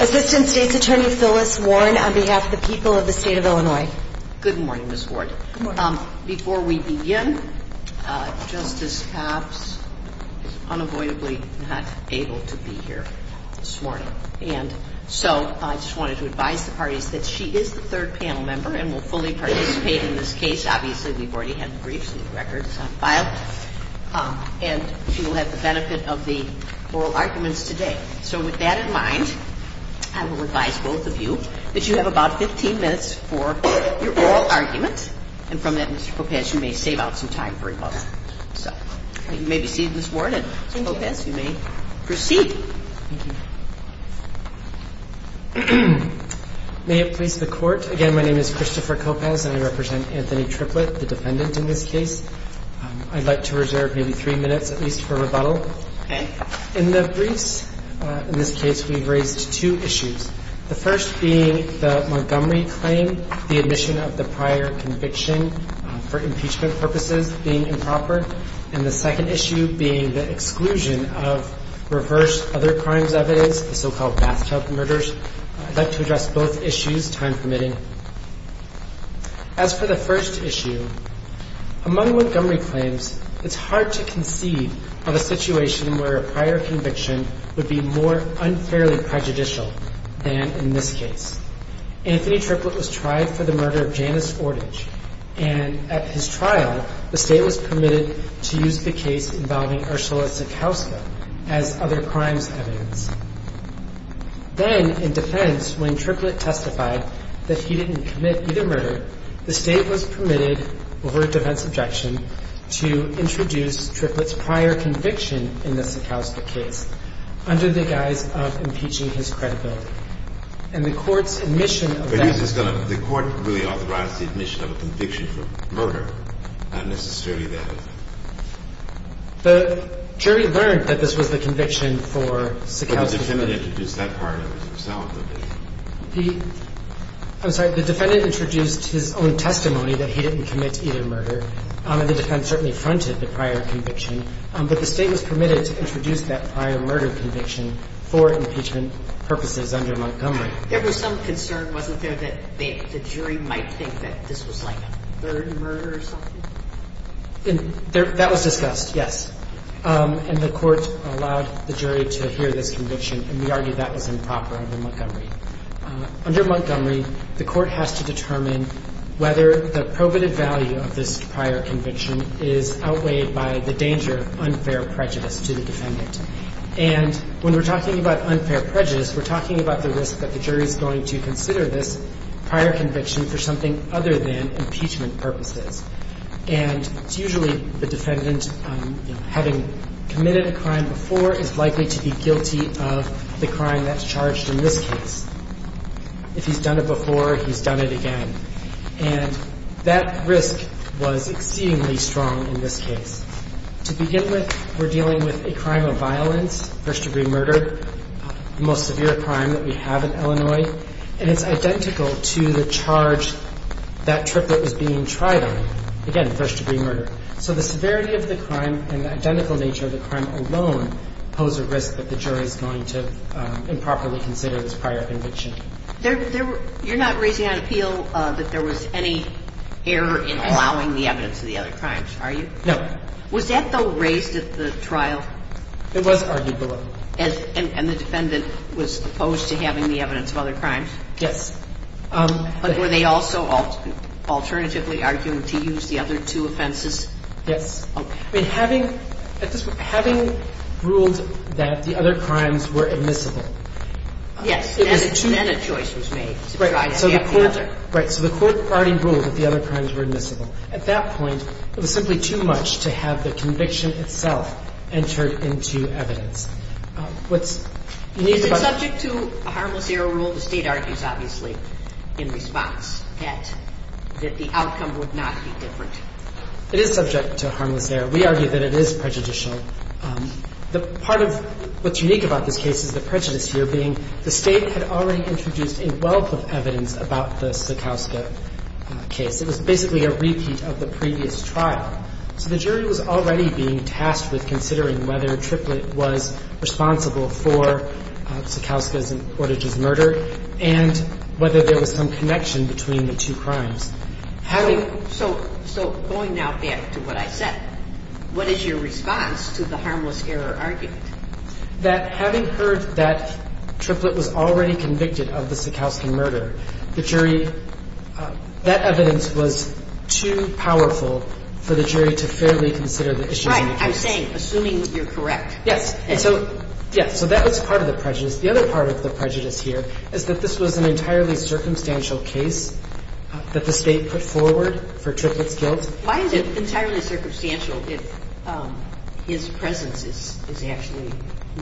Assistant State's Attorney Phyllis Warren, on behalf of the people of the State of Illinois Good morning, Ms. Warren. Before we begin, Justice Copps is unavoidably not able to be here this morning. And so I just wanted to advise the parties that she is the third panel member and will fully participate in this case. Obviously, we've already had the briefs and the records on file. And she will have the benefit of the oral arguments today. So with that in mind, I will advise both of you that you have about 15 minutes for questions. And from that, Mr. Coppaz, you may save out some time for rebuttal. So you may be seated, Ms. Warren and Ms. Coppaz, you may proceed. Thank you. May it please the Court. Again, my name is Christopher Coppaz and I represent Anthony Triplett, the defendant in this case. I'd like to reserve maybe three minutes at least for rebuttal. Okay. In the briefs in this case, we've raised two issues. The first being the Montgomery claim, the admission of the prior conviction for impeachment purposes being improper. And the second issue being the exclusion of reverse other crimes evidence, the so-called bathtub murders. I'd like to address both issues, time permitting. As for the first issue, among Montgomery claims, it's hard to conceive of a situation where a prior conviction would be more unfairly prejudicial than in this case. Anthony Triplett was tried for the murder of Janice Fortage. And at his trial, the State was permitted to use the case involving Ursula Sekowska as other crimes evidence. Then, in defense, when Triplett testified that he didn't commit either murder, the State was permitted, over a defense objection, to introduce Triplett's prior conviction in the Sekowska case under the guise of impeaching his credibility. And the Court's admission of that... The Court really authorized the admission of a conviction for murder? Not necessarily that, is it? The jury learned that this was the conviction for Sekowska's... But the defendant introduced that prior conviction. I'm sorry. The defendant introduced his own testimony that he didn't commit either murder. And the defense certainly affronted the prior conviction. But the State was permitted to introduce that prior murder conviction for impeachment purposes under Montgomery. There was some concern, wasn't there, that the jury might think that this was like a third murder or something? That was discussed, yes. And the Court allowed the jury to hear this conviction, and we argue that was improper under Montgomery. Under Montgomery, the Court has to determine whether the probative value of this prior conviction is outweighed by the danger of unfair prejudice to the defendant. And when we're talking about unfair prejudice, we're talking about the risk that the jury's going to consider this prior conviction for something other than impeachment purposes. And it's usually the defendant, having committed a crime before, is likely to be guilty of the crime that's charged in this case. If he's done it before, he's done it again. And that risk was exceedingly strong in this case. To begin with, we're dealing with a crime of violence, first-degree murder, the most severe crime that we have in Illinois. And it's identical to the charge that triplet was being tried on, again, first-degree murder. So the severity of the crime and the identical nature of the crime alone pose a risk that the jury's going to improperly consider this prior conviction. You're not raising an appeal that there was any error in allowing the evidence of the other crimes, are you? No. Was that, though, raised at the trial? It was argued below. And the defendant was opposed to having the evidence of other crimes? Yes. But were they also alternatively arguing to use the other two offenses? Yes. Okay. I mean, having ruled that the other crimes were admissible. Yes. Then a choice was made to try to have the other. Right. So the court already ruled that the other crimes were admissible. At that point, it was simply too much to have the conviction itself entered into evidence. What's needed about the — Is it subject to a harmless error rule? The State argues, obviously, in response, that the outcome would not be different. It is subject to a harmless error. We argue that it is prejudicial. Part of what's unique about this case is the prejudice here being the State had already introduced a wealth of evidence about the Sekowska case. It was basically a repeat of the previous trial. So the jury was already being tasked with considering whether Triplett was responsible for Sekowska's and Portage's murder and whether there was some connection between the two crimes. So going now back to what I said, what is your response to the harmless error argument? That having heard that Triplett was already convicted of the Sekowska murder, the jury — that evidence was too powerful for the jury to fairly consider the issues in the case. Right. I'm saying, assuming you're correct. Yes. And so, yes. So that was part of the prejudice. The other part of the prejudice here is that this was an entirely circumstantial case that the State put forward for Triplett's guilt. Why is it entirely circumstantial if his presence is actually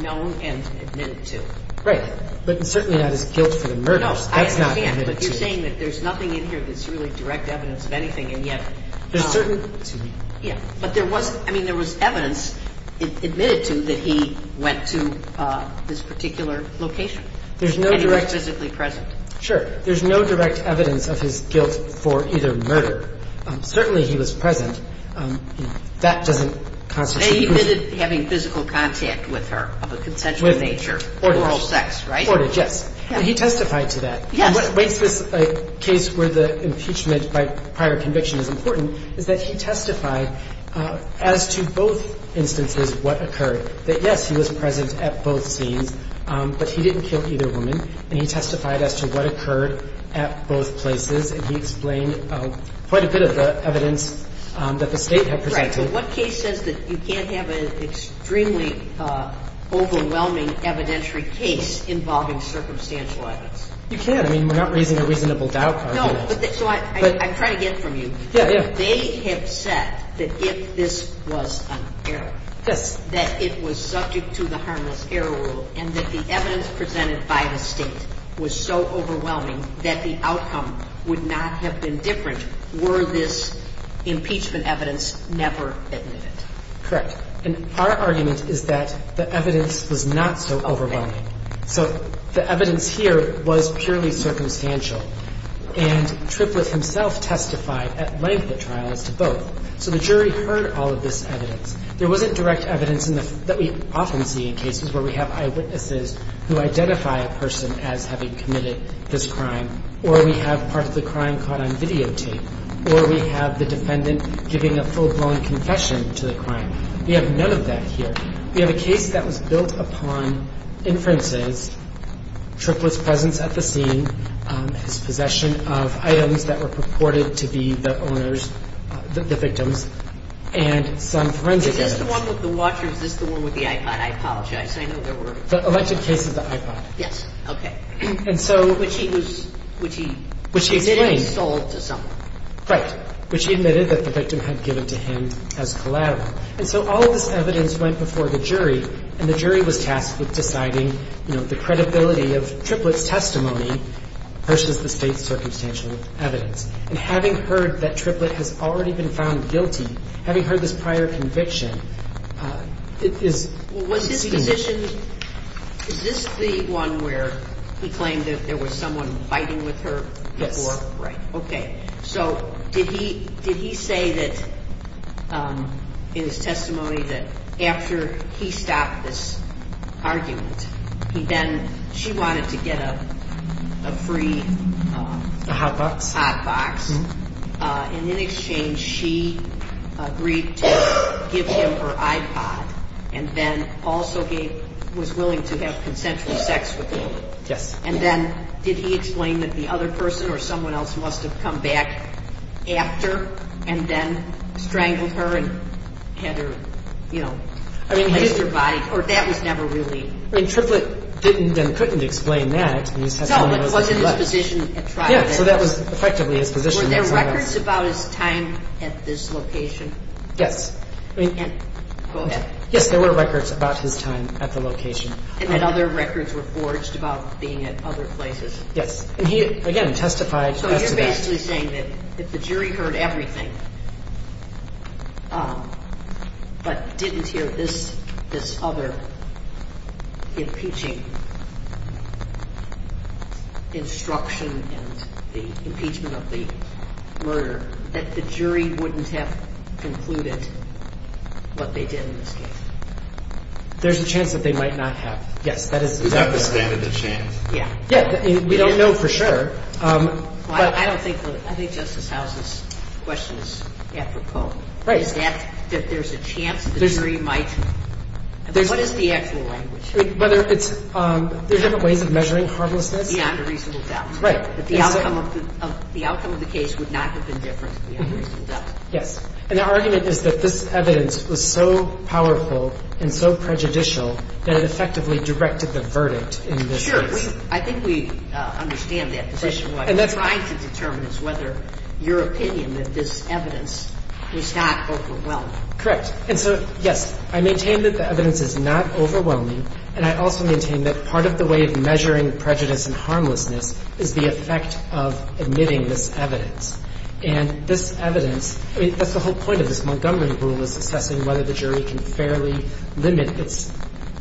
known and admitted to? Right. But certainly that is guilt for the murder. No, I understand. That's not admitted to. But you're saying that there's nothing in here that's really direct evidence of anything, and yet — There's certain — Excuse me. Yeah. But there was — I mean, there was evidence admitted to that he went to this particular location. There's no direct — And he was physically present. Sure. There's no direct evidence of his guilt for either murder. Certainly he was present. That doesn't constitute proof. And he admitted having physical contact with her of a consensual nature. With — Oral sex, right? Oral, yes. And he testified to that. Yes. And what makes this a case where the impeachment by prior conviction is important is that he testified as to both instances what occurred, that, yes, he was present at both scenes, but he didn't kill either woman, and he testified as to what occurred at both places, and he explained quite a bit of the evidence that the State had presented. Right. But what case says that you can't have an extremely overwhelming evidentiary case involving circumstantial evidence? You can. I mean, we're not raising a reasonable doubt here. No. So I'm trying to get from you. Yeah, yeah. They have said that if this was an error, that it was subject to the harmless error rule and that the evidence presented by the State was so overwhelming that the outcome would not have been different were this impeachment evidence never admitted. Correct. And our argument is that the evidence was not so overwhelming. Okay. So the evidence here was purely circumstantial, and Triplett himself testified at length at trial as to both. So the jury heard all of this evidence. There wasn't direct evidence that we often see in cases where we have eyewitnesses who identify a person as having committed this crime, or we have part of the crime caught on videotape, or we have the defendant giving a full-blown confession to the crime. We have none of that here. We have a case that was built upon inferences, Triplett's presence at the scene, his possession of items that were purported to be the owner's, the victim's, and some forensic evidence. Is this the one with the watch or is this the one with the iPod? I apologize. I know there were. The elected case is the iPod. Yes. Okay. And so. Which he was, which he. Which he explained. Installed to someone. Right. Which he admitted that the victim had given to him as collateral. And so all of this evidence went before the jury, and the jury was tasked with deciding, you know, the credibility of Triplett's testimony versus the State's circumstantial evidence. And having heard that Triplett has already been found guilty, having heard this prior conviction, it is. Was his position. Is this the one where he claimed that there was someone fighting with her before. Yes. Right. Okay. So did he. Did he say that in his testimony that after he stopped this argument, he then. She wanted to get a free. A hot box. A hot box. And in exchange she agreed to give him her iPod and then also gave, was willing to have consensual sex with him. Yes. And then did he explain that the other person or someone else must have come back after and then strangled her and had her, you know. I mean. Or that was never really. I mean, Triplett didn't and couldn't explain that. No, but was in his position at trial. Yeah, so that was effectively his position. Were there records about his time at this location? Yes. I mean. Go ahead. Yes, there were records about his time at the location. And then other records were forged about being at other places. Yes. And he, again, testified. So you're basically saying that if the jury heard everything but didn't hear this other impeaching instruction and the impeachment of the murder, that the jury wouldn't have concluded what they did in this case. I mean, there's a chance that they might not have. Yes, that is. Is that the standard of chance? Yeah. Yeah. We don't know for sure. I don't think the – I think Justice House's question is apropos. Right. Is that that there's a chance the jury might – what is the actual language? Whether it's – there are different ways of measuring harmlessness. Beyond a reasonable doubt. Right. That the outcome of the case would not have been different beyond a reasonable doubt. Yes. And the argument is that this evidence was so powerful and so prejudicial that it effectively directed the verdict in this case. Sure. I think we understand that position. And that's fine. What we're trying to determine is whether your opinion that this evidence was not overwhelming. Correct. And so, yes, I maintain that the evidence is not overwhelming, and I also maintain that part of the way of measuring prejudice and harmlessness is the effect of admitting this evidence. And this evidence – I mean, that's the whole point of this Montgomery rule is assessing whether the jury can fairly limit its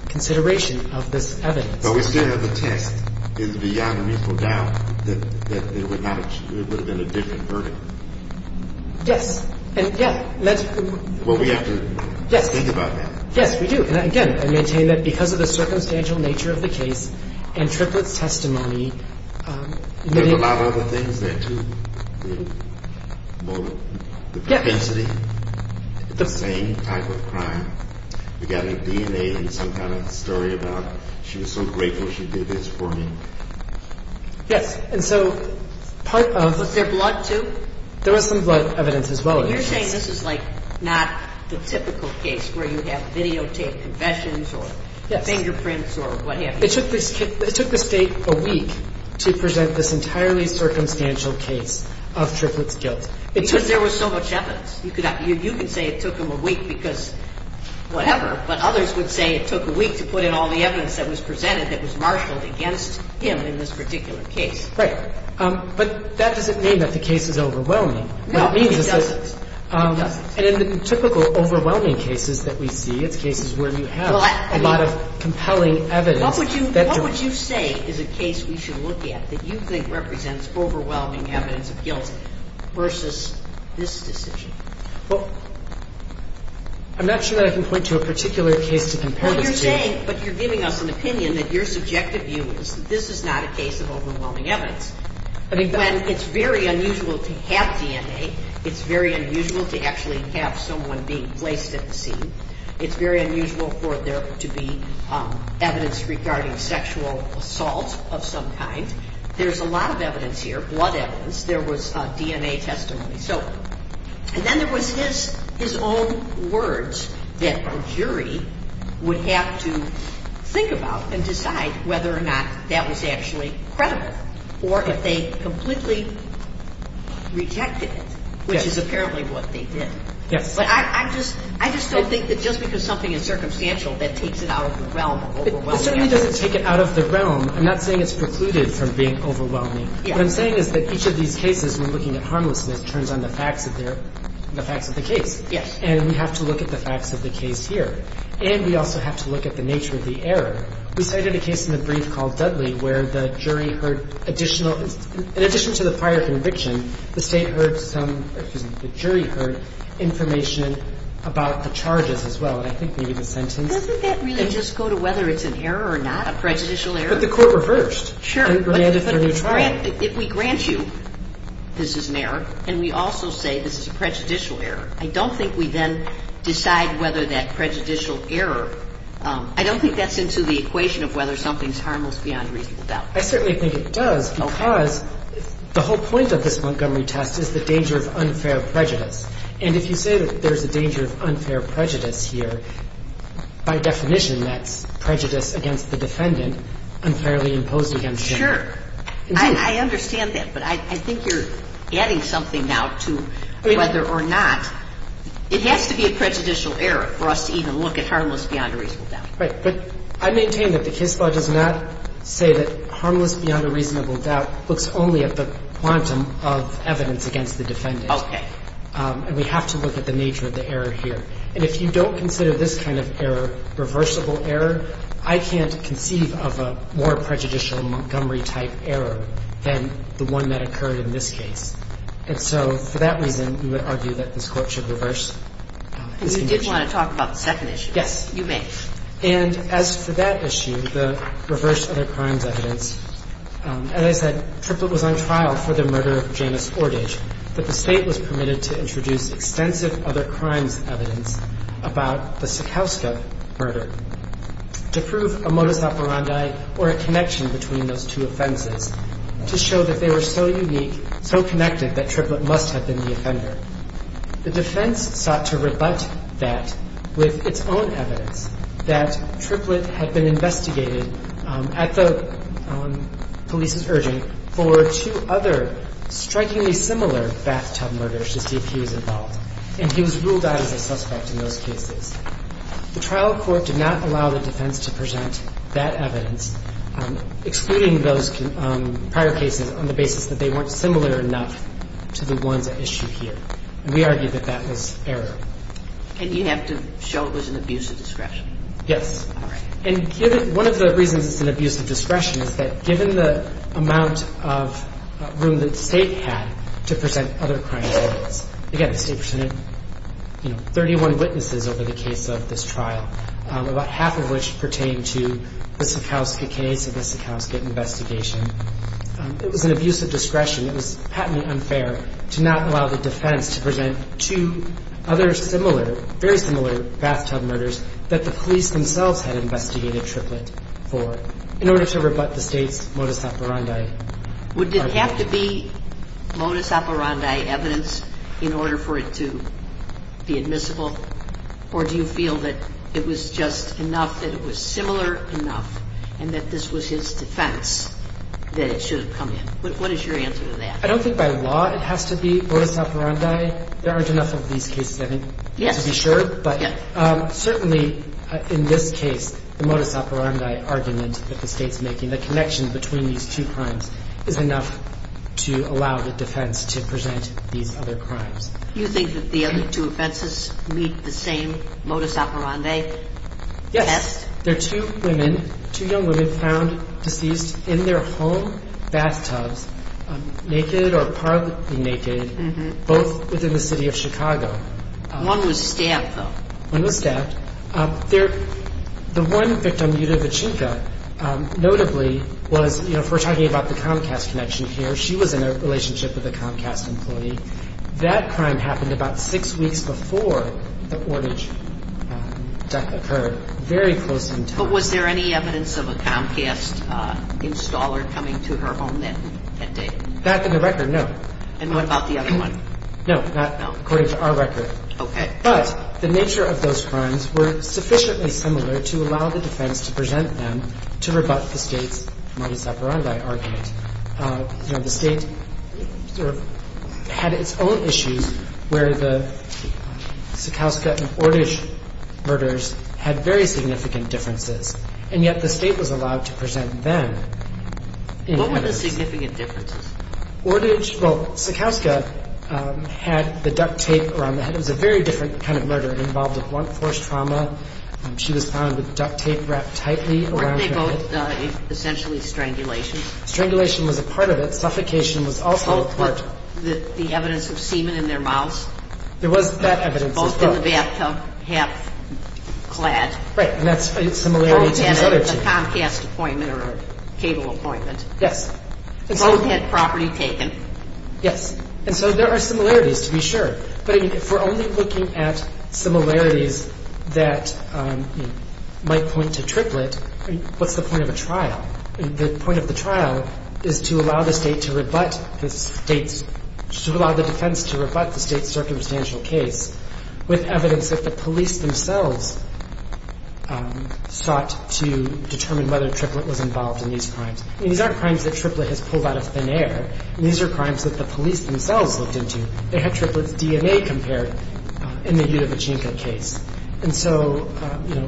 consideration of this evidence. But we still have the test. It's beyond a reasonable doubt that it would not have – it would have been a different verdict. Yes. And, yeah, that's – Well, we have to think about that. Yes. Yes, we do. And, again, I maintain that because of the circumstantial nature of the case and Triplett's testimony, admitting – Was there two? The propensity? Yes. The same type of crime? We got a DNA and some kind of story about she was so grateful she did this for me? Yes. And so part of – Was there blood, too? There was some blood evidence, as well. And you're saying this is, like, not the typical case where you have videotaped confessions or fingerprints or what have you? It took the State a week to present this entirely circumstantial case of Triplett's guilt. Because there was so much evidence. You could say it took them a week because whatever, but others would say it took a week to put in all the evidence that was presented that was marshaled against him in this particular case. Right. But that doesn't mean that the case is overwhelming. No, it doesn't. And in the typical overwhelming cases that we see, it's cases where you have a lot of compelling evidence. What would you say is a case we should look at that you think represents overwhelming evidence of guilt versus this decision? Well, I'm not sure that I can point to a particular case to compare this to. What you're saying – but you're giving us an opinion that your subjective view is that this is not a case of overwhelming evidence when it's very unusual to have DNA, it's very unusual to actually have someone being placed at the scene, it's very unusual for there to be evidence regarding sexual assault of some kind. There's a lot of evidence here, blood evidence. There was DNA testimony. So – and then there was his own words that a jury would have to think about and decide whether or not that was actually credible or if they completely rejected it, which is apparently what they did. Yes. But I'm just – I just don't think that just because something is circumstantial that takes it out of the realm of overwhelming evidence. It certainly doesn't take it out of the realm. I'm not saying it's precluded from being overwhelming. What I'm saying is that each of these cases, when looking at harmlessness, turns on the facts of their – the facts of the case. Yes. And we have to look at the facts of the case here. And we also have to look at the nature of the error. We cited a case in the brief called Dudley where the jury heard additional – in addition to the prior conviction, the State heard some – excuse me, the jury heard information about the charges as well. And I think maybe the sentence – Doesn't that really just go to whether it's an error or not, a prejudicial error? But the court reversed. Sure. And granted for a new trial. But if we grant you this is an error and we also say this is a prejudicial error, I don't think we then decide whether that prejudicial error – I don't think that's into the equation of whether something's harmless beyond reasonable doubt. I certainly think it does because the whole point of this Montgomery test is the danger of unfair prejudice. And if you say that there's a danger of unfair prejudice here, by definition that's prejudice against the defendant, unfairly imposed against him. Sure. I understand that. But I think you're adding something now to whether or not – it has to be a prejudicial error for us to even look at harmless beyond a reasonable doubt. Right. But I maintain that the case law does not say that harmless beyond a reasonable doubt looks only at the quantum of evidence against the defendant. Okay. And we have to look at the nature of the error here. And if you don't consider this kind of error reversible error, I can't conceive of a more prejudicial Montgomery-type error than the one that occurred in this case. And so for that reason, we would argue that this Court should reverse this condition. And you did want to talk about the second issue. Yes. You may. And as for that issue, the reverse other crimes evidence, as I said, Triplett was on trial for the murder of Janice Ordage, but the State was permitted to introduce extensive other crimes evidence about the Sekowska murder to prove a modus operandi or a connection between those two offenses to show that they were so unique, so connected, that Triplett must have been the offender. The defense sought to rebut that with its own evidence that Triplett had been investigated at the police's urging for two other strikingly similar bathtub murders to see if he was involved. And he was ruled out as a suspect in those cases. The trial court did not allow the defense to present that evidence, excluding those prior cases on the basis that they weren't similar enough to the ones at issue here. And we argued that that was error. And you have to show it was an abuse of discretion. Yes. All right. And one of the reasons it's an abuse of discretion is that given the amount of room that the State had to present other crimes evidence, again, the State presented 31 witnesses over the case of this trial, about half of which pertained to the Sekowska case and the Sekowska investigation. It was an abuse of discretion. It was patently unfair to not allow the defense to present two other similar, very similar bathtub murders that the police themselves had investigated Triplett for, in order to rebut the State's modus operandi. Would it have to be modus operandi evidence in order for it to be admissible? Or do you feel that it was just enough, that it was similar enough, and that this was his defense that it should have come in? What is your answer to that? I don't think by law it has to be modus operandi. There aren't enough of these cases, I think, to be sure. Yes. But certainly in this case, the modus operandi argument that the State's making, the connection between these two crimes, is enough to allow the defense to present these other crimes. Do you think that the other two offenses meet the same modus operandi test? Yes. There are two women, two young women, found deceased in their home bathtubs, naked or partly naked, both within the city of Chicago. One was stabbed, though. One was stabbed. The one victim, Yuda Vachinka, notably was, you know, if we're talking about the Comcast connection here, she was in a relationship with a Comcast employee. That crime happened about six weeks before the ordage death occurred, very close in time. But was there any evidence of a Comcast installer coming to her home that day? Back in the record, no. And what about the other one? No, not according to our record. Okay. But the nature of those crimes were sufficiently similar to allow the defense to present them to rebut the State's modus operandi argument. You know, the State sort of had its own issues where the Sakowska and Ordage murders had very significant differences. And yet the State was allowed to present them. What were the significant differences? Ordage, well, Sakowska had the duct tape around the head. It was a very different kind of murder. It involved a blunt force trauma. She was found with duct tape wrapped tightly around her head. Weren't they both essentially strangulations? Strangulation was a part of it. Suffocation was also a part. The evidence of semen in their mouths? There was that evidence as well. Both in the bathtub, half-clad. Right, and that's a similarity to these other two. Both had a Comcast appointment or a cable appointment. Yes. Both had property taken. Yes. And so there are similarities, to be sure. But if we're only looking at similarities that might point to triplet, what's the point of a trial? The point of the trial is to allow the State to rebut the State's, to allow the defense to rebut the State's circumstantial case with evidence that the police themselves sought to determine whether triplet was involved in these crimes. I mean, these aren't crimes that triplet has pulled out of thin air. These are crimes that the police themselves looked into. They had triplet's DNA compared in the Yudevichinka case. And so, you know,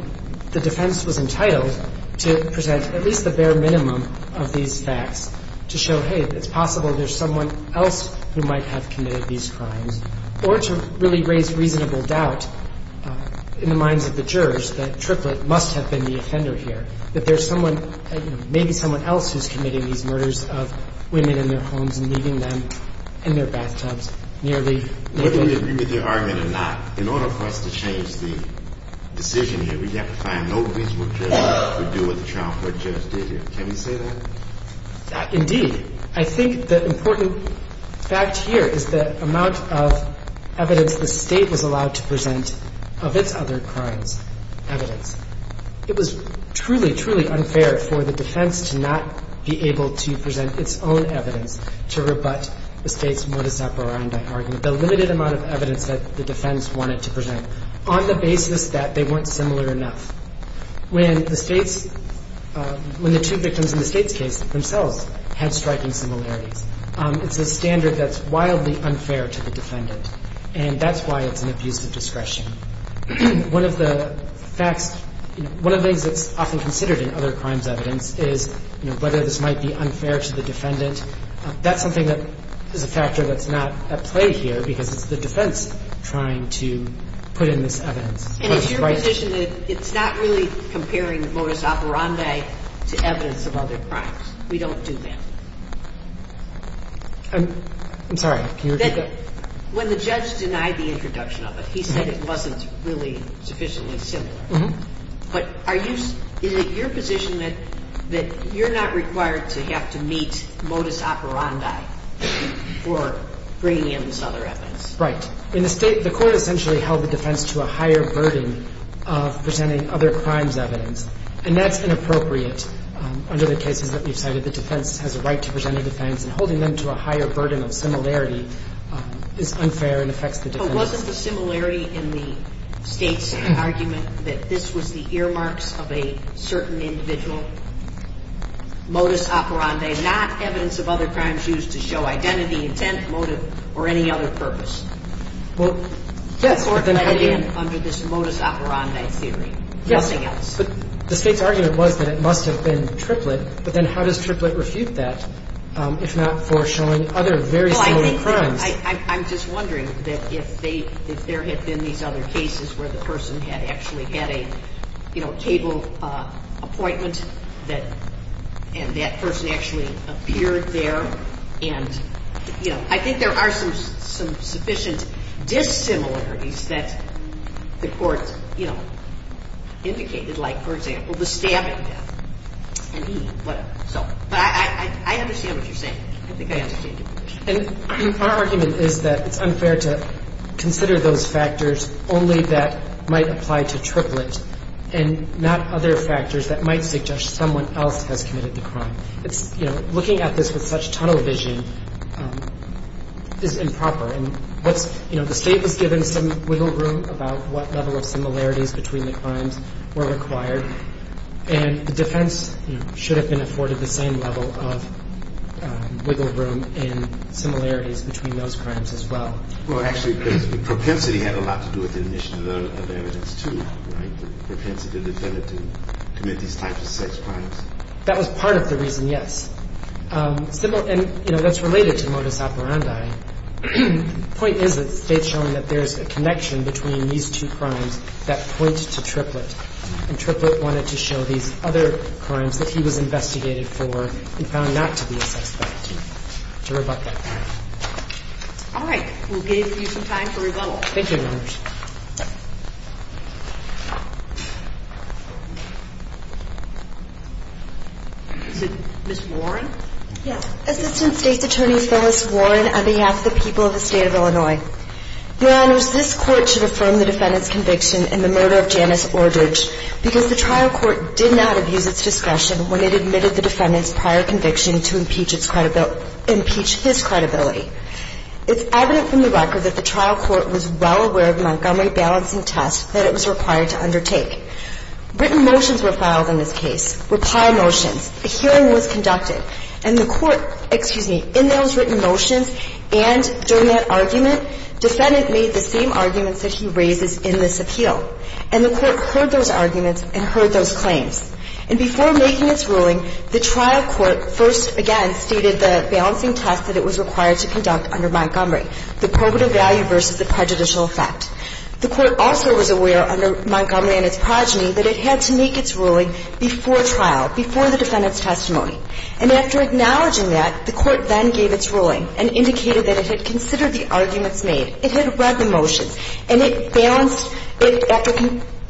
the defense was entitled to present at least the bare minimum of these facts to show, hey, it's possible there's someone else who might have committed these crimes, or to really raise reasonable doubt in the minds of the jurors that triplet must have been the offender here, that there's someone, maybe someone else who's committing these murders of women in their homes and leaving them in their bathtubs nearly naked. Now, whether you agree with your argument or not, in order for us to change the decision here, we have to find no reasonable judge to do what the trial court judge did here. Can we say that? Indeed. I think the important fact here is the amount of evidence the State was allowed to present of its other crimes' evidence. It was truly, truly unfair for the defense to not be able to present its own evidence to rebut the State's modus operandi argument. The limited amount of evidence that the defense wanted to present on the basis that they weren't similar enough. When the two victims in the State's case themselves had striking similarities, it's a standard that's wildly unfair to the defendant. And that's why it's an abuse of discretion. One of the things that's often considered in other crimes' evidence is whether this might be unfair to the defendant. That's something that is a factor that's not at play here because it's the defense trying to put in this evidence. And is your position that it's not really comparing the modus operandi to evidence of other crimes? We don't do that. I'm sorry. Can you repeat that? When the judge denied the introduction of it, he said it wasn't really sufficiently similar. But are you – is it your position that you're not required to have to meet modus operandi for bringing in this other evidence? Right. In the State, the Court essentially held the defense to a higher burden of presenting other crimes' evidence. And that's inappropriate under the cases that we've cited. The defense has a right to present a defense, and holding them to a higher burden of similarity is unfair and affects the defense. It wasn't the similarity in the State's argument that this was the earmarks of a certain individual? Modus operandi, not evidence of other crimes used to show identity, intent, motive, or any other purpose? Well, yes. Under this modus operandi theory. Yes. Nothing else. But the State's argument was that it must have been triplet. But then how does triplet refute that, if not for showing other very similar crimes? I'm just wondering that if they – if there had been these other cases where the person had actually had a, you know, table appointment that – and that person actually appeared there, and, you know, I think there are some sufficient dissimilarities that the Court, you know, indicated. Like, for example, the stabbing death. And he – whatever. So – but I understand what you're saying. I think I understand your question. And our argument is that it's unfair to consider those factors only that might apply to triplet and not other factors that might suggest someone else has committed the crime. It's – you know, looking at this with such tunnel vision is improper. And what's – you know, the State was given some wiggle room about what level of similarities between the crimes were required, and the defense, you know, should have been afforded the same level of wiggle room in similarities between those crimes as well. Well, actually, propensity had a lot to do with the admission of evidence, too, right? The propensity of the defendant to commit these types of sex crimes. That was part of the reason, yes. And, you know, that's related to modus operandi. The point is that the State's showing that there's a connection between these two crimes that point to triplet. And triplet wanted to show these other crimes that he was investigated for and found not to be a suspect to rebut that claim. All right. We'll give you some time for rebuttal. Thank you, Your Honors. Is it Ms. Warren? Yes. Assistant State's Attorney Phyllis Warren on behalf of the people of the State of Illinois. Your Honors, this Court should affirm the defendant's conviction in the murder of Janice Ordridge because the trial court did not abuse its discretion when it admitted the defendant's prior conviction to impeach his credibility. It's evident from the record that the trial court was well aware of Montgomery balancing tests that it was required to undertake. Written motions were filed in this case, reply motions. A hearing was conducted. And the court, excuse me, in those written motions and during that argument, defendant made the same arguments that he raises in this appeal. And the court heard those arguments and heard those claims. And before making its ruling, the trial court first again stated the balancing test that it was required to conduct under Montgomery, the probative value versus the prejudicial effect. The court also was aware under Montgomery and its progeny that it had to make its ruling before trial, before the defendant's testimony. And after acknowledging that, the court then gave its ruling and indicated that it had considered the arguments made. It had read the motions. And it balanced it after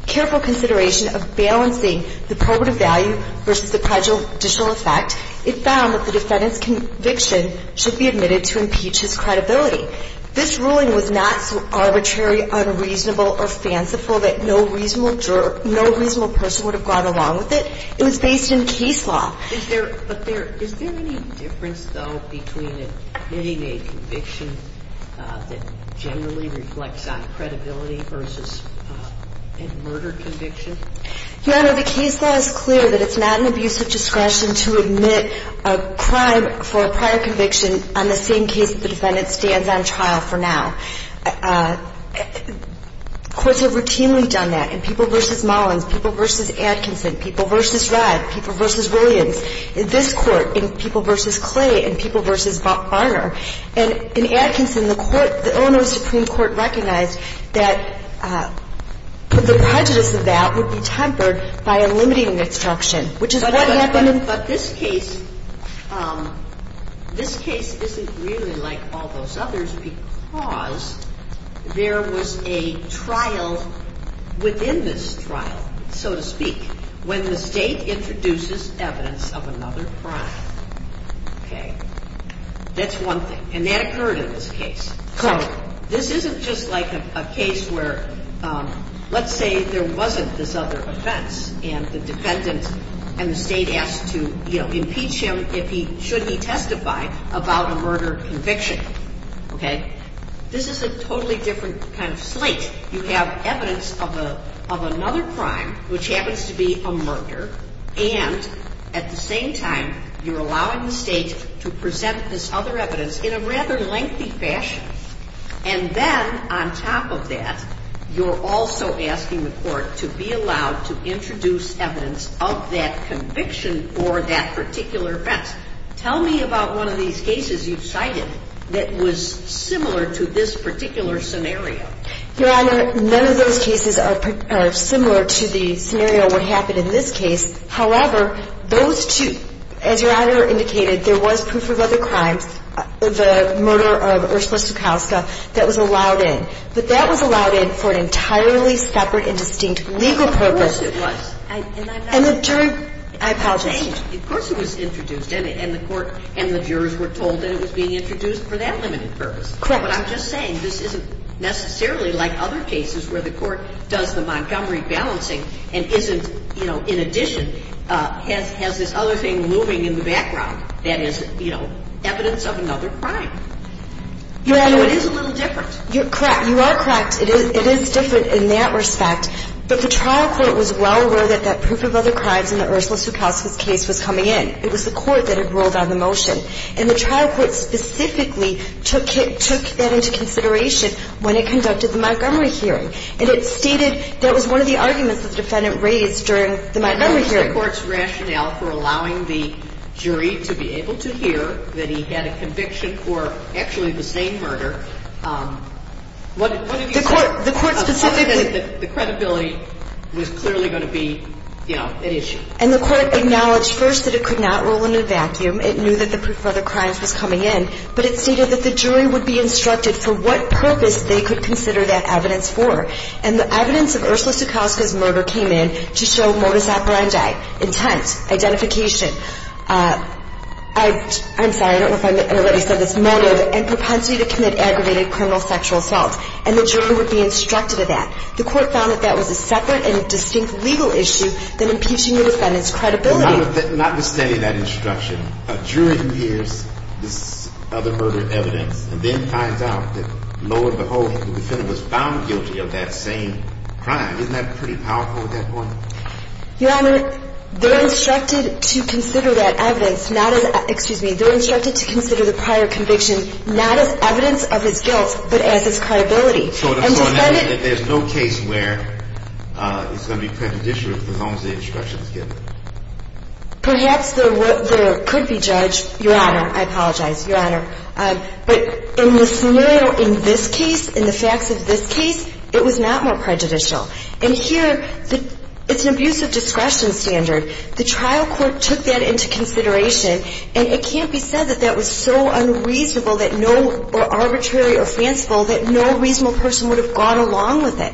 careful consideration of balancing the probative value versus the prejudicial effect. It found that the defendant's conviction should be admitted to impeach his credibility. This ruling was not so arbitrary, unreasonable, or fanciful that no reasonable person would have gone along with it. It was based in case law. Is there any difference, though, between admitting a conviction that generally reflects on credibility versus a murder conviction? Your Honor, the case law is clear that it's not an abuse of discretion to admit a crime for a prior conviction on the same case the defendant stands on trial for now. Courts have routinely done that in people versus Mullins, people versus Atkinson, people versus Rudd, people versus Williams, in this Court, in people versus Clay, in people versus Barner. And in Atkinson, the court, the Illinois Supreme Court recognized that the prejudice of that would be tempered by a limiting instruction, which is what happened in this case. But this case isn't really like all those others because there was a trial within this trial, so to speak, when the State introduces evidence of another crime. Okay? That's one thing. And that occurred in this case. So this isn't just like a case where, let's say, there wasn't this other offense and the defendant and the State asked to, you know, impeach him if he, should he testify about a murder conviction. Okay? This is a totally different kind of slate. You have evidence of another crime, which happens to be a murder, and at the same time, you're allowing the State to present this other evidence in a rather lengthy fashion. And then, on top of that, you're also asking the Court to be allowed to introduce evidence of that conviction for that particular offense. Tell me about one of these cases you've cited that was similar to this particular scenario. Your Honor, none of those cases are similar to the scenario that happened in this case. However, those two, as Your Honor indicated, there was proof of other crimes, the murder of Ursula Sukowska, that was allowed in. But that was allowed in for an entirely separate and distinct legal purpose. Of course it was. And the jury, I apologize. Of course it was introduced, and the Court and the jurors were told that it was being introduced for that limited purpose. Your Honor, what I'm just saying, this isn't necessarily like other cases where the Court does the Montgomery balancing and isn't, you know, in addition, has this other thing looming in the background that is, you know, evidence of another crime. Your Honor, it is a little different. You're correct. You are correct. It is different in that respect. But the trial court was well aware that that proof of other crimes in the Ursula Sukowska case was coming in. It was the Court that had rolled out the motion. And the trial court specifically took that into consideration when it conducted the Montgomery hearing. And it stated that was one of the arguments that the Defendant raised during the Montgomery hearing. And under the Court's rationale for allowing the jury to be able to hear that he had a conviction for actually the same murder, what did he say? The Court specifically. Asserted that the credibility was clearly going to be, you know, an issue. And the Court acknowledged first that it could not roll in a vacuum. It knew that the proof of other crimes was coming in. But it stated that the jury would be instructed for what purpose they could consider that evidence for. And the evidence of Ursula Sukowska's murder came in to show modus operandi, intent, identification, I'm sorry, I don't know if I said this, motive, and propensity to commit aggravated criminal sexual assault. And the jury would be instructed of that. The Court found that that was a separate and distinct legal issue than impeaching the Defendant's credibility. So notwithstanding that instruction, a jury hears this other murder evidence and then finds out that, lo and behold, the Defendant was found guilty of that same crime. Isn't that pretty powerful at that point? Your Honor, they're instructed to consider that evidence not as, excuse me, they're instructed to consider the prior conviction not as evidence of his guilt but as his credibility. So the Court knows that there's no case where it's going to be prejudicious as long as the instruction is given. Perhaps there could be, Judge. Your Honor, I apologize. Your Honor, but in the scenario in this case, in the facts of this case, it was not more prejudicial. And here, it's an abuse of discretion standard. The trial court took that into consideration. And it can't be said that that was so unreasonable or arbitrary or fanciful that no reasonable person would have gone along with it.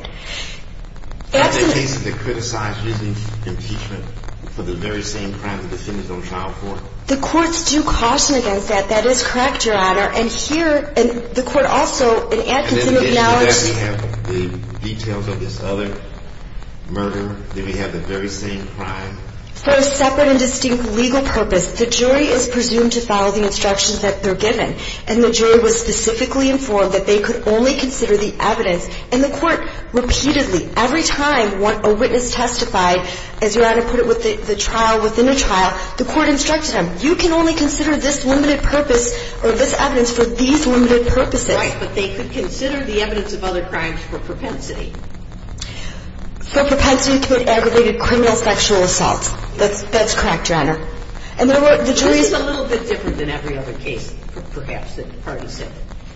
Aren't there cases that criticize using impeachment for the very same crime the Defendant is on trial for? The Courts do caution against that. That is correct, Your Honor. And here, the Court also, in Atkinson, acknowledges. And in addition to that, we have the details of this other murder. Then we have the very same crime. For a separate and distinct legal purpose, the jury is presumed to follow the instructions that they're given. And the jury was specifically informed that they could only consider the evidence. And the Court repeatedly, every time a witness testified, as Your Honor put it, within a trial, the Court instructed them, you can only consider this limited purpose or this evidence for these limited purposes. Right. But they could consider the evidence of other crimes for propensity. For propensity to commit aggravated criminal sexual assault. That's correct, Your Honor. And the jury is a little bit different than every other case, perhaps, that the parties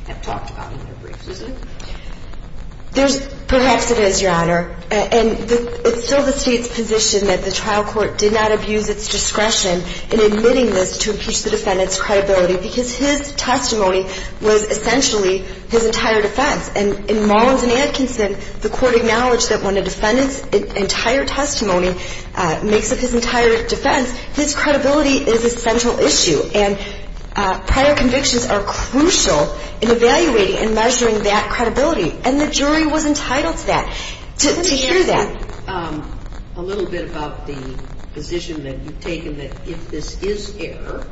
have talked about in their briefs, isn't it? Perhaps it is, Your Honor. And it's still the State's position that the trial court did not abuse its discretion in admitting this to impeach the defendant's credibility, because his testimony was essentially his entire defense. And in Mullins and Atkinson, the Court acknowledged that when a defendant's entire testimony makes up his entire defense, his credibility is a central issue. And prior convictions are crucial in evaluating and measuring that credibility. And the jury was entitled to that, to hear that. Let me ask you a little bit about the position that you've taken that if this is error,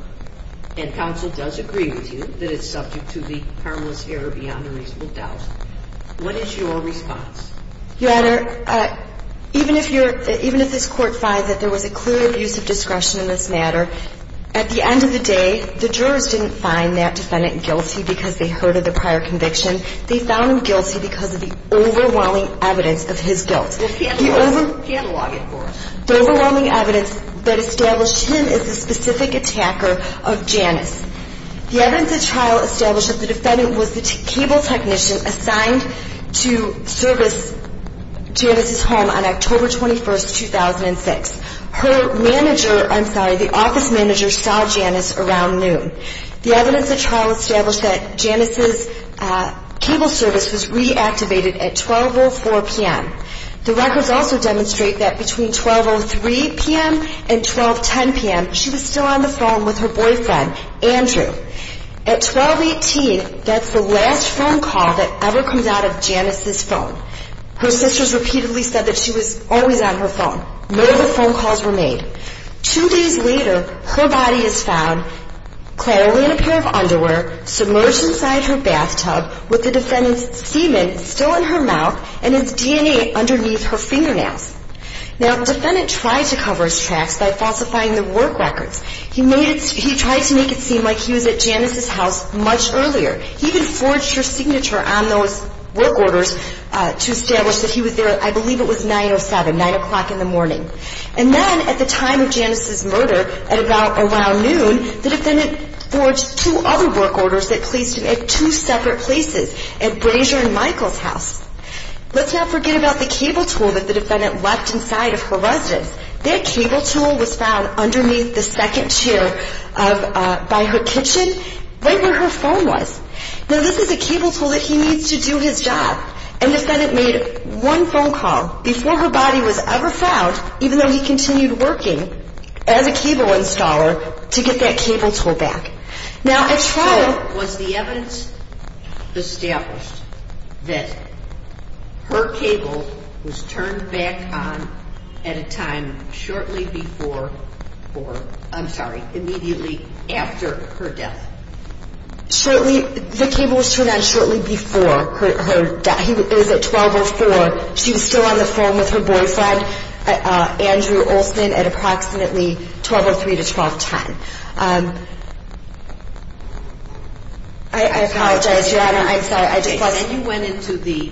and counsel does agree with you that it's subject to the harmless error beyond a reasonable doubt, what is your response? Your Honor, even if this Court finds that there was a clear abuse of discretion in this matter, at the end of the day, the jurors didn't find that defendant guilty because they heard of the prior conviction. They found him guilty because of the overwhelming evidence of his guilt. Catalog it for us. The overwhelming evidence that established him as the specific attacker of Janice. The evidence at trial established that the defendant was the cable technician assigned to service Janice's home on October 21, 2006. Her manager, I'm sorry, the office manager, saw Janice around noon. The evidence at trial established that Janice's cable service was reactivated at 12.04 p.m. The records also demonstrate that between 12.03 p.m. and 12.10 p.m., she was still on the phone with her boyfriend, Andrew. At 12.18, that's the last phone call that ever comes out of Janice's phone. Her sisters repeatedly said that she was always on her phone. No other phone calls were made. Two days later, her body is found clad only in a pair of underwear, submerged inside her bathtub with the defendant's semen still in her mouth and his DNA underneath her fingernails. Now, the defendant tried to cover his tracks by falsifying the work records. He tried to make it seem like he was at Janice's house much earlier. He even forged her signature on those work orders to establish that he was there, I believe it was 9.07, 9 o'clock in the morning. And then, at the time of Janice's murder, at about around noon, the defendant forged two other work orders that placed him at two separate places, at Brazier and Michael's house. Let's not forget about the cable tool that the defendant left inside of her residence. That cable tool was found underneath the second chair by her kitchen, right where her phone was. Now, this is a cable tool that he needs to do his job. And the defendant made one phone call before her body was ever found, even though he continued working as a cable installer to get that cable tool back. Now, at trial... So, was the evidence established that her cable was turned back on at a time shortly before or, I'm sorry, immediately after her death? Shortly, the cable was turned on shortly before her death. It was at 12.04. She was still on the phone with her boyfriend, Andrew Olson, at approximately 12.03 to 12.10. I apologize. Your Honor, I'm sorry. I just lost... And you went into the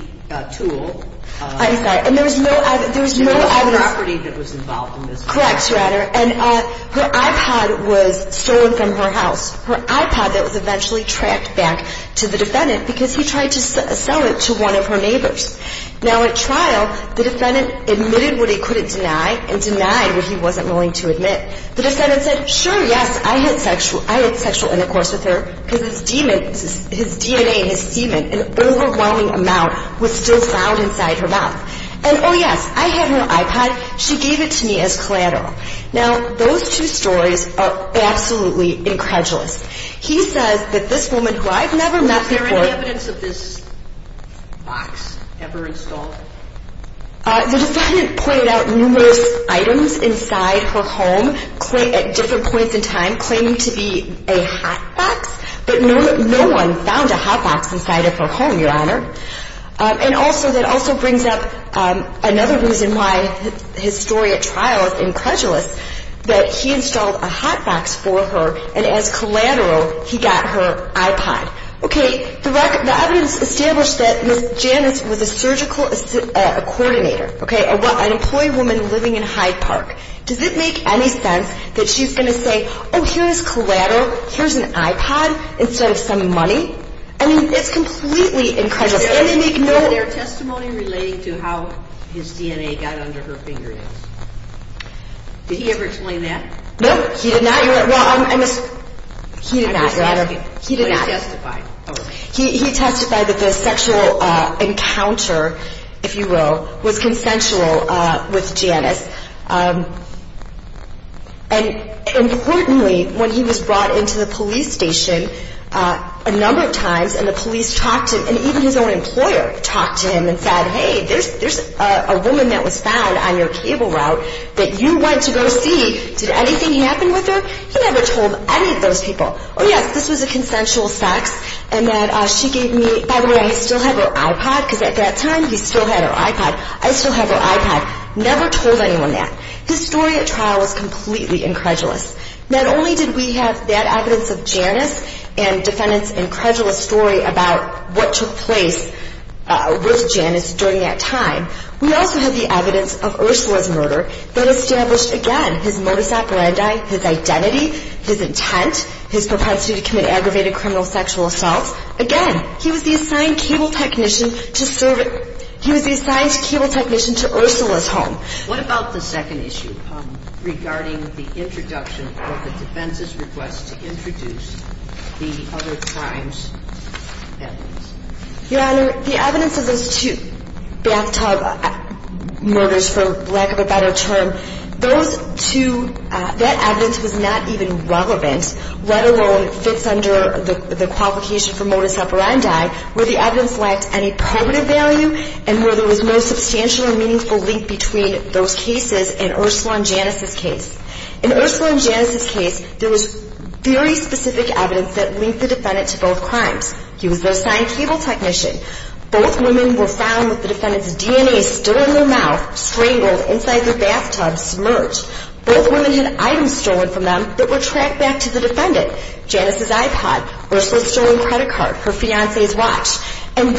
tool. I'm sorry. And there was no evidence... There was no property that was involved in this case. Correct, Your Honor. And her iPod was stolen from her house. Her iPod that was eventually tracked back to the defendant because he tried to sell it to one of her neighbors. Now, at trial, the defendant admitted what he couldn't deny and denied what he wasn't willing to admit. The defendant said, sure, yes, I had sexual intercourse with her because his DNA and his semen, an overwhelming amount, was still found inside her mouth. And, oh, yes, I had her iPod. She gave it to me as collateral. Now, those two stories are absolutely incredulous. He says that this woman, who I've never met before... Was there any evidence of this box ever installed? The defendant pointed out numerous items inside her home at different points in time claiming to be a hot box, but no one found a hot box inside of her home, Your Honor. And also, that also brings up another reason why his story at trial is incredulous, that he installed a hot box for her, and as collateral, he got her iPod. Okay, the evidence established that Ms. Janice was a surgical coordinator, okay, an employee woman living in Hyde Park. Does it make any sense that she's going to say, oh, here's collateral, here's an iPod instead of some money? I mean, it's completely incredulous. Is there any other testimony relating to how his DNA got under her fingernails? Did he ever explain that? No, he did not, Your Honor. Well, I'm just... He did not, Your Honor. He did not. But he testified. He testified that the sexual encounter, if you will, was consensual with Janice. And importantly, when he was brought into the police station, a number of times, and the police talked to him, and even his own employer talked to him and said, hey, there's a woman that was found on your cable route that you went to go see. Did anything happen with her? He never told any of those people. Oh, yes, this was a consensual sex, and that she gave me... By the way, I still have her iPod, because at that time, he still had her iPod. I still have her iPod. Never told anyone that. His story at trial was completely incredulous. Not only did we have that evidence of Janice and defendants' incredulous story about what took place with Janice during that time, we also have the evidence of Ursula's murder that established, again, his modus operandi, his identity, his intent, his propensity to commit aggravated criminal sexual assaults. Again, he was the assigned cable technician to serve at... He was the assigned cable technician to Ursula's home. What about the second issue regarding the introduction of the defense's request to introduce the other crimes evidence? Your Honor, the evidence of those two bathtub murders, for lack of a better term, those two, that evidence was not even relevant, let alone fits under the qualification for modus operandi, where the evidence lacked any cognitive value and where there was no substantial or meaningful link between those cases and Ursula and Janice's case. In Ursula and Janice's case, there was very specific evidence that linked the defendant to both crimes. He was the assigned cable technician. Both women were found with the defendant's DNA still in their mouth, strangled inside their bathtub, submerged. Both women had items stolen from them that were tracked back to the defendant, Janice's iPod, Ursula's stolen credit card, her fiancé's watch. In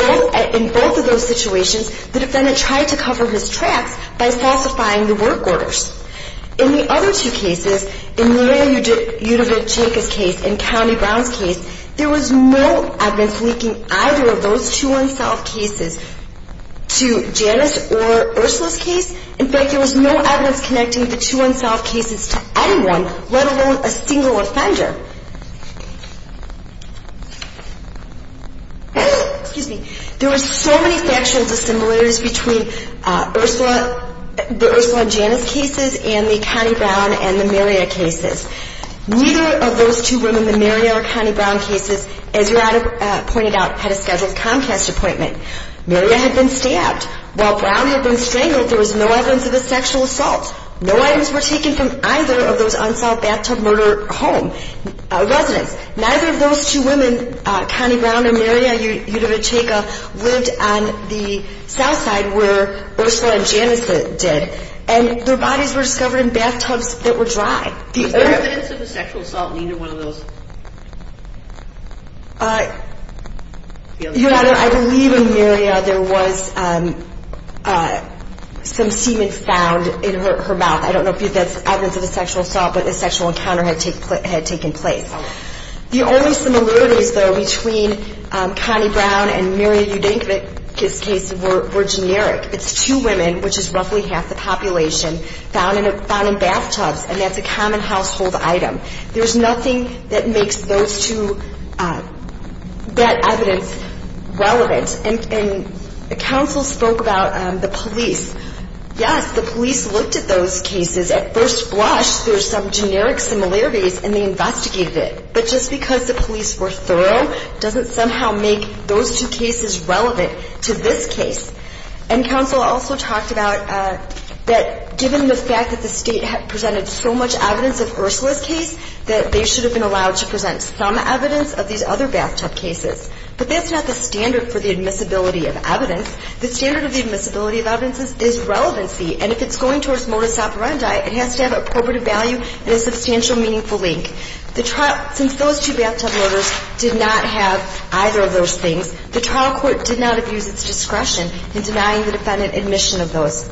both of those situations, the defendant tried to cover his tracks by falsifying the work orders. In the other two cases, in Leo Yudavitchicka's case and County Brown's case, there was no evidence linking either of those two unsolved cases to Janice or Ursula's case. In fact, there was no evidence connecting the two unsolved cases to anyone, let alone a single offender. There were so many factual dissimilarities between the Ursula and Janice cases and the County Brown and the Mariah cases. Neither of those two women, the Mariah or County Brown cases, as you pointed out, had a scheduled Comcast appointment. Mariah had been stabbed. While Brown had been strangled, there was no evidence of a sexual assault. No items were taken from either of those unsolved bathtub murder home. Neither of those two women, County Brown and Mariah Yudavitchicka, lived on the south side where Ursula and Janice did, and their bodies were discovered in bathtubs that were dry. Is there evidence of a sexual assault in either one of those? Your Honor, I believe in Mariah there was some semen found in her mouth. I don't know if that's evidence of a sexual assault, but a sexual encounter had taken place. The only similarities, though, between County Brown and Mariah Yudavitchicka's cases were generic. It's two women, which is roughly half the population, found in bathtubs, and that's a common household item. There's nothing that makes those two, that evidence, relevant. And the counsel spoke about the police. Yes, the police looked at those cases. At first blush, there's some generic similarities, and they investigated it. But just because the police were thorough doesn't somehow make those two cases relevant to this case. And counsel also talked about that given the fact that the State presented so much evidence of Ursula's case, that they should have been allowed to present some evidence of these other bathtub cases. But that's not the standard for the admissibility of evidence. The standard of the admissibility of evidence is relevancy. And if it's going towards modus operandi, it has to have appropriate value and a substantial meaningful link. Since those two bathtub murders did not have either of those things, the trial court did not abuse its discretion in denying the defendant admission of those.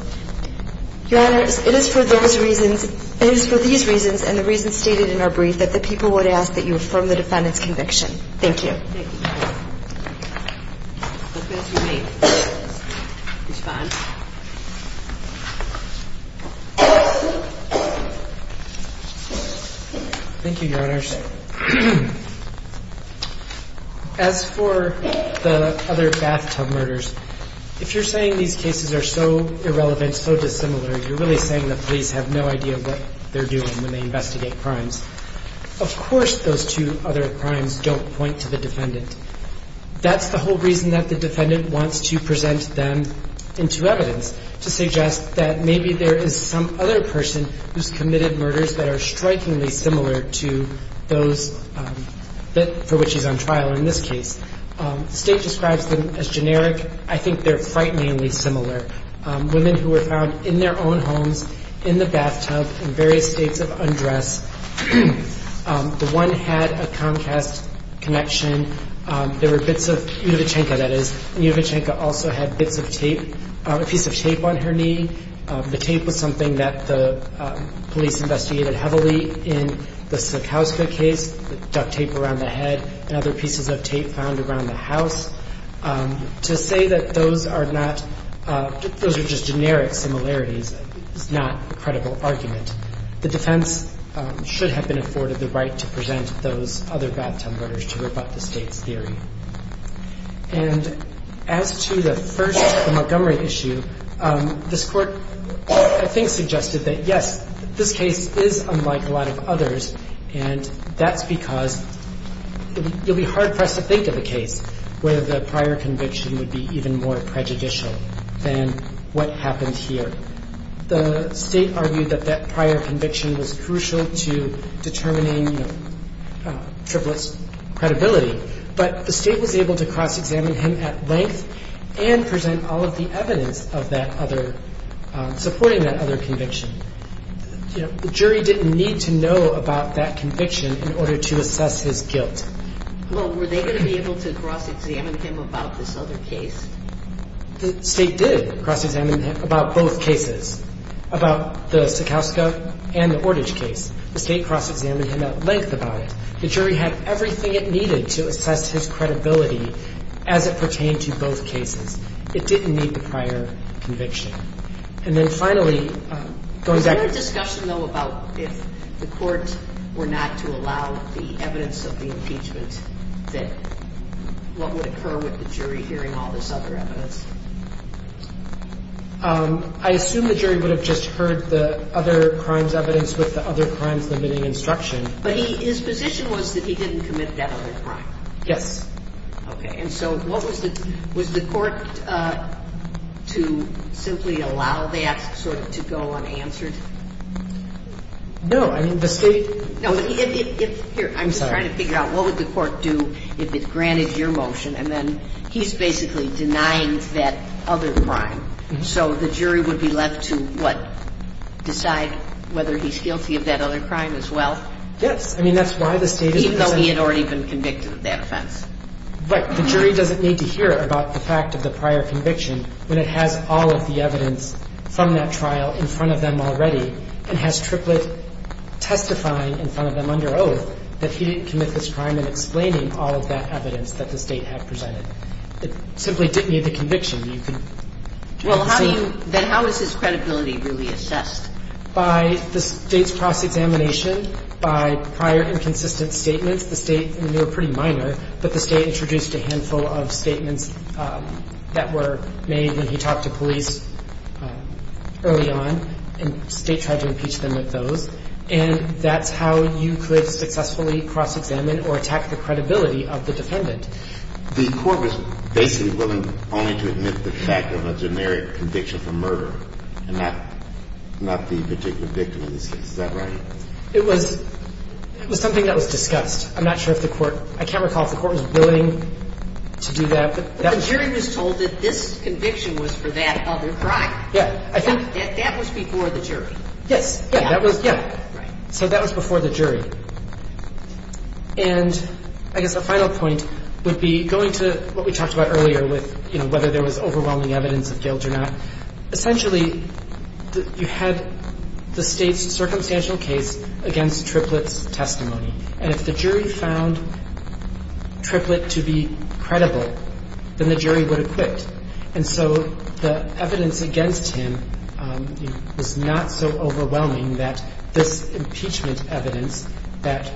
Your Honors, it is for these reasons and the reasons stated in our brief that the people would ask that you affirm the defendant's conviction. Thank you. Thank you, Your Honors. As for the other bathtub murders, if you're saying these cases are so irrelevant, so dissimilar, you're really saying the police have no idea what they're doing when they investigate crimes. Of course those two other crimes don't point to the defendant. They don't point to the defendant. That's the whole reason that the defendant wants to present them into evidence, to suggest that maybe there is some other person who's committed murders that are strikingly similar to those for which he's on trial in this case. The State describes them as generic. I think they're frighteningly similar. Women who were found in their own homes, in the bathtub, in various states of undress. The one had a Comcast connection. There were bits of Univichenka, that is, and Univichenka also had bits of tape, a piece of tape on her knee. The tape was something that the police investigated heavily in the Sakowska case, duct tape around the head and other pieces of tape found around the house. To say that those are not, those are just generic similarities is not a credible argument. The defense should have been afforded the right to present those other bathtub murders to rebut the State's theory. And as to the first Montgomery issue, this Court I think suggested that, yes, this case is unlike a lot of others, and that's because you'll be hard-pressed to think of a case where the prior conviction would be even more prejudicial than what happened here. The State argued that that prior conviction was crucial to determining Triplett's credibility, but the State was able to cross-examine him at length and present all of the evidence supporting that other conviction. The jury didn't need to know about that conviction in order to assess his guilt. Well, were they going to be able to cross-examine him about this other case? The State did cross-examine him about both cases, about the Sakowska and the Ordage case. The State cross-examined him at length about it. The jury had everything it needed to assess his credibility as it pertained to both cases. It didn't need the prior conviction. And then finally, going back to the... Is there a discussion, though, about if the Court were not to allow the evidence of the impeachment that what would occur with the jury hearing all this other evidence? I assume the jury would have just heard the other crime's evidence with the other crime's limiting instruction. But his position was that he didn't commit that other crime. Yes. Okay. And so what was the... Was the Court to simply allow that sort of to go unanswered? No. I mean, the State... Here, I'm just trying to figure out what would the Court do if it granted your motion and then he's basically denying that other crime. So the jury would be left to, what, decide whether he's guilty of that other crime as well? Yes. I mean, that's why the State is... Even though he had already been convicted of that offense. Right. The jury doesn't need to hear about the fact of the prior conviction when it has all of the evidence from that trial in front of them already and has triplet testifying in front of them under oath, that he didn't commit this crime in explaining all of that evidence that the State had presented. It simply didn't need the conviction. You can... Well, how do you... Then how is his credibility really assessed? By the State's cross-examination, by prior inconsistent statements. The State... And they were pretty minor, but the State introduced a handful of statements that were made when he talked to police early on, and the State tried to impeach them with those. And that's how you could successfully cross-examine or attack the credibility of the defendant. The Court was basically willing only to admit the fact of a generic conviction for murder and not the particular victim in this case. Is that right? It was something that was discussed. I'm not sure if the Court – I can't recall if the Court was willing to do that, but that was... But the jury was told that this conviction was for that other crime. Yes. I think... That was before the jury. Yes. Yeah, that was – yeah. Right. So that was before the jury. And I guess a final point would be going to what we talked about earlier with, you know, whether there was overwhelming evidence of guilt or not. Essentially, you had the State's circumstantial case against Triplett's testimony. And if the jury found Triplett to be credible, then the jury would have quit. And so the evidence against him was not so overwhelming that this impeachment evidence that,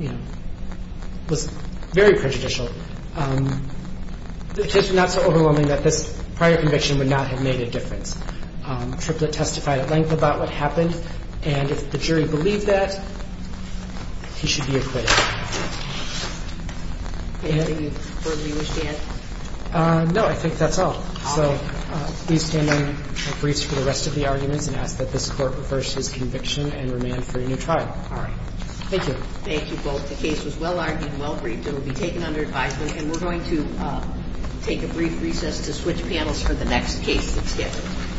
you know, was very prejudicial, it's just not so overwhelming that this prior conviction would not have made a difference. Triplett testified at length about what happened, and if the jury believed that, he should be acquitted. Anything you further understand? No. I think that's all. All right. So please stand in briefs for the rest of the arguments and ask that this Court reverse his conviction and remand for a new trial. All right. Thank you. Thank you both. The case was well-argued and well-briefed. It will be taken under advisement, and we're going to take a brief recess to switch panels for the next case that's scheduled.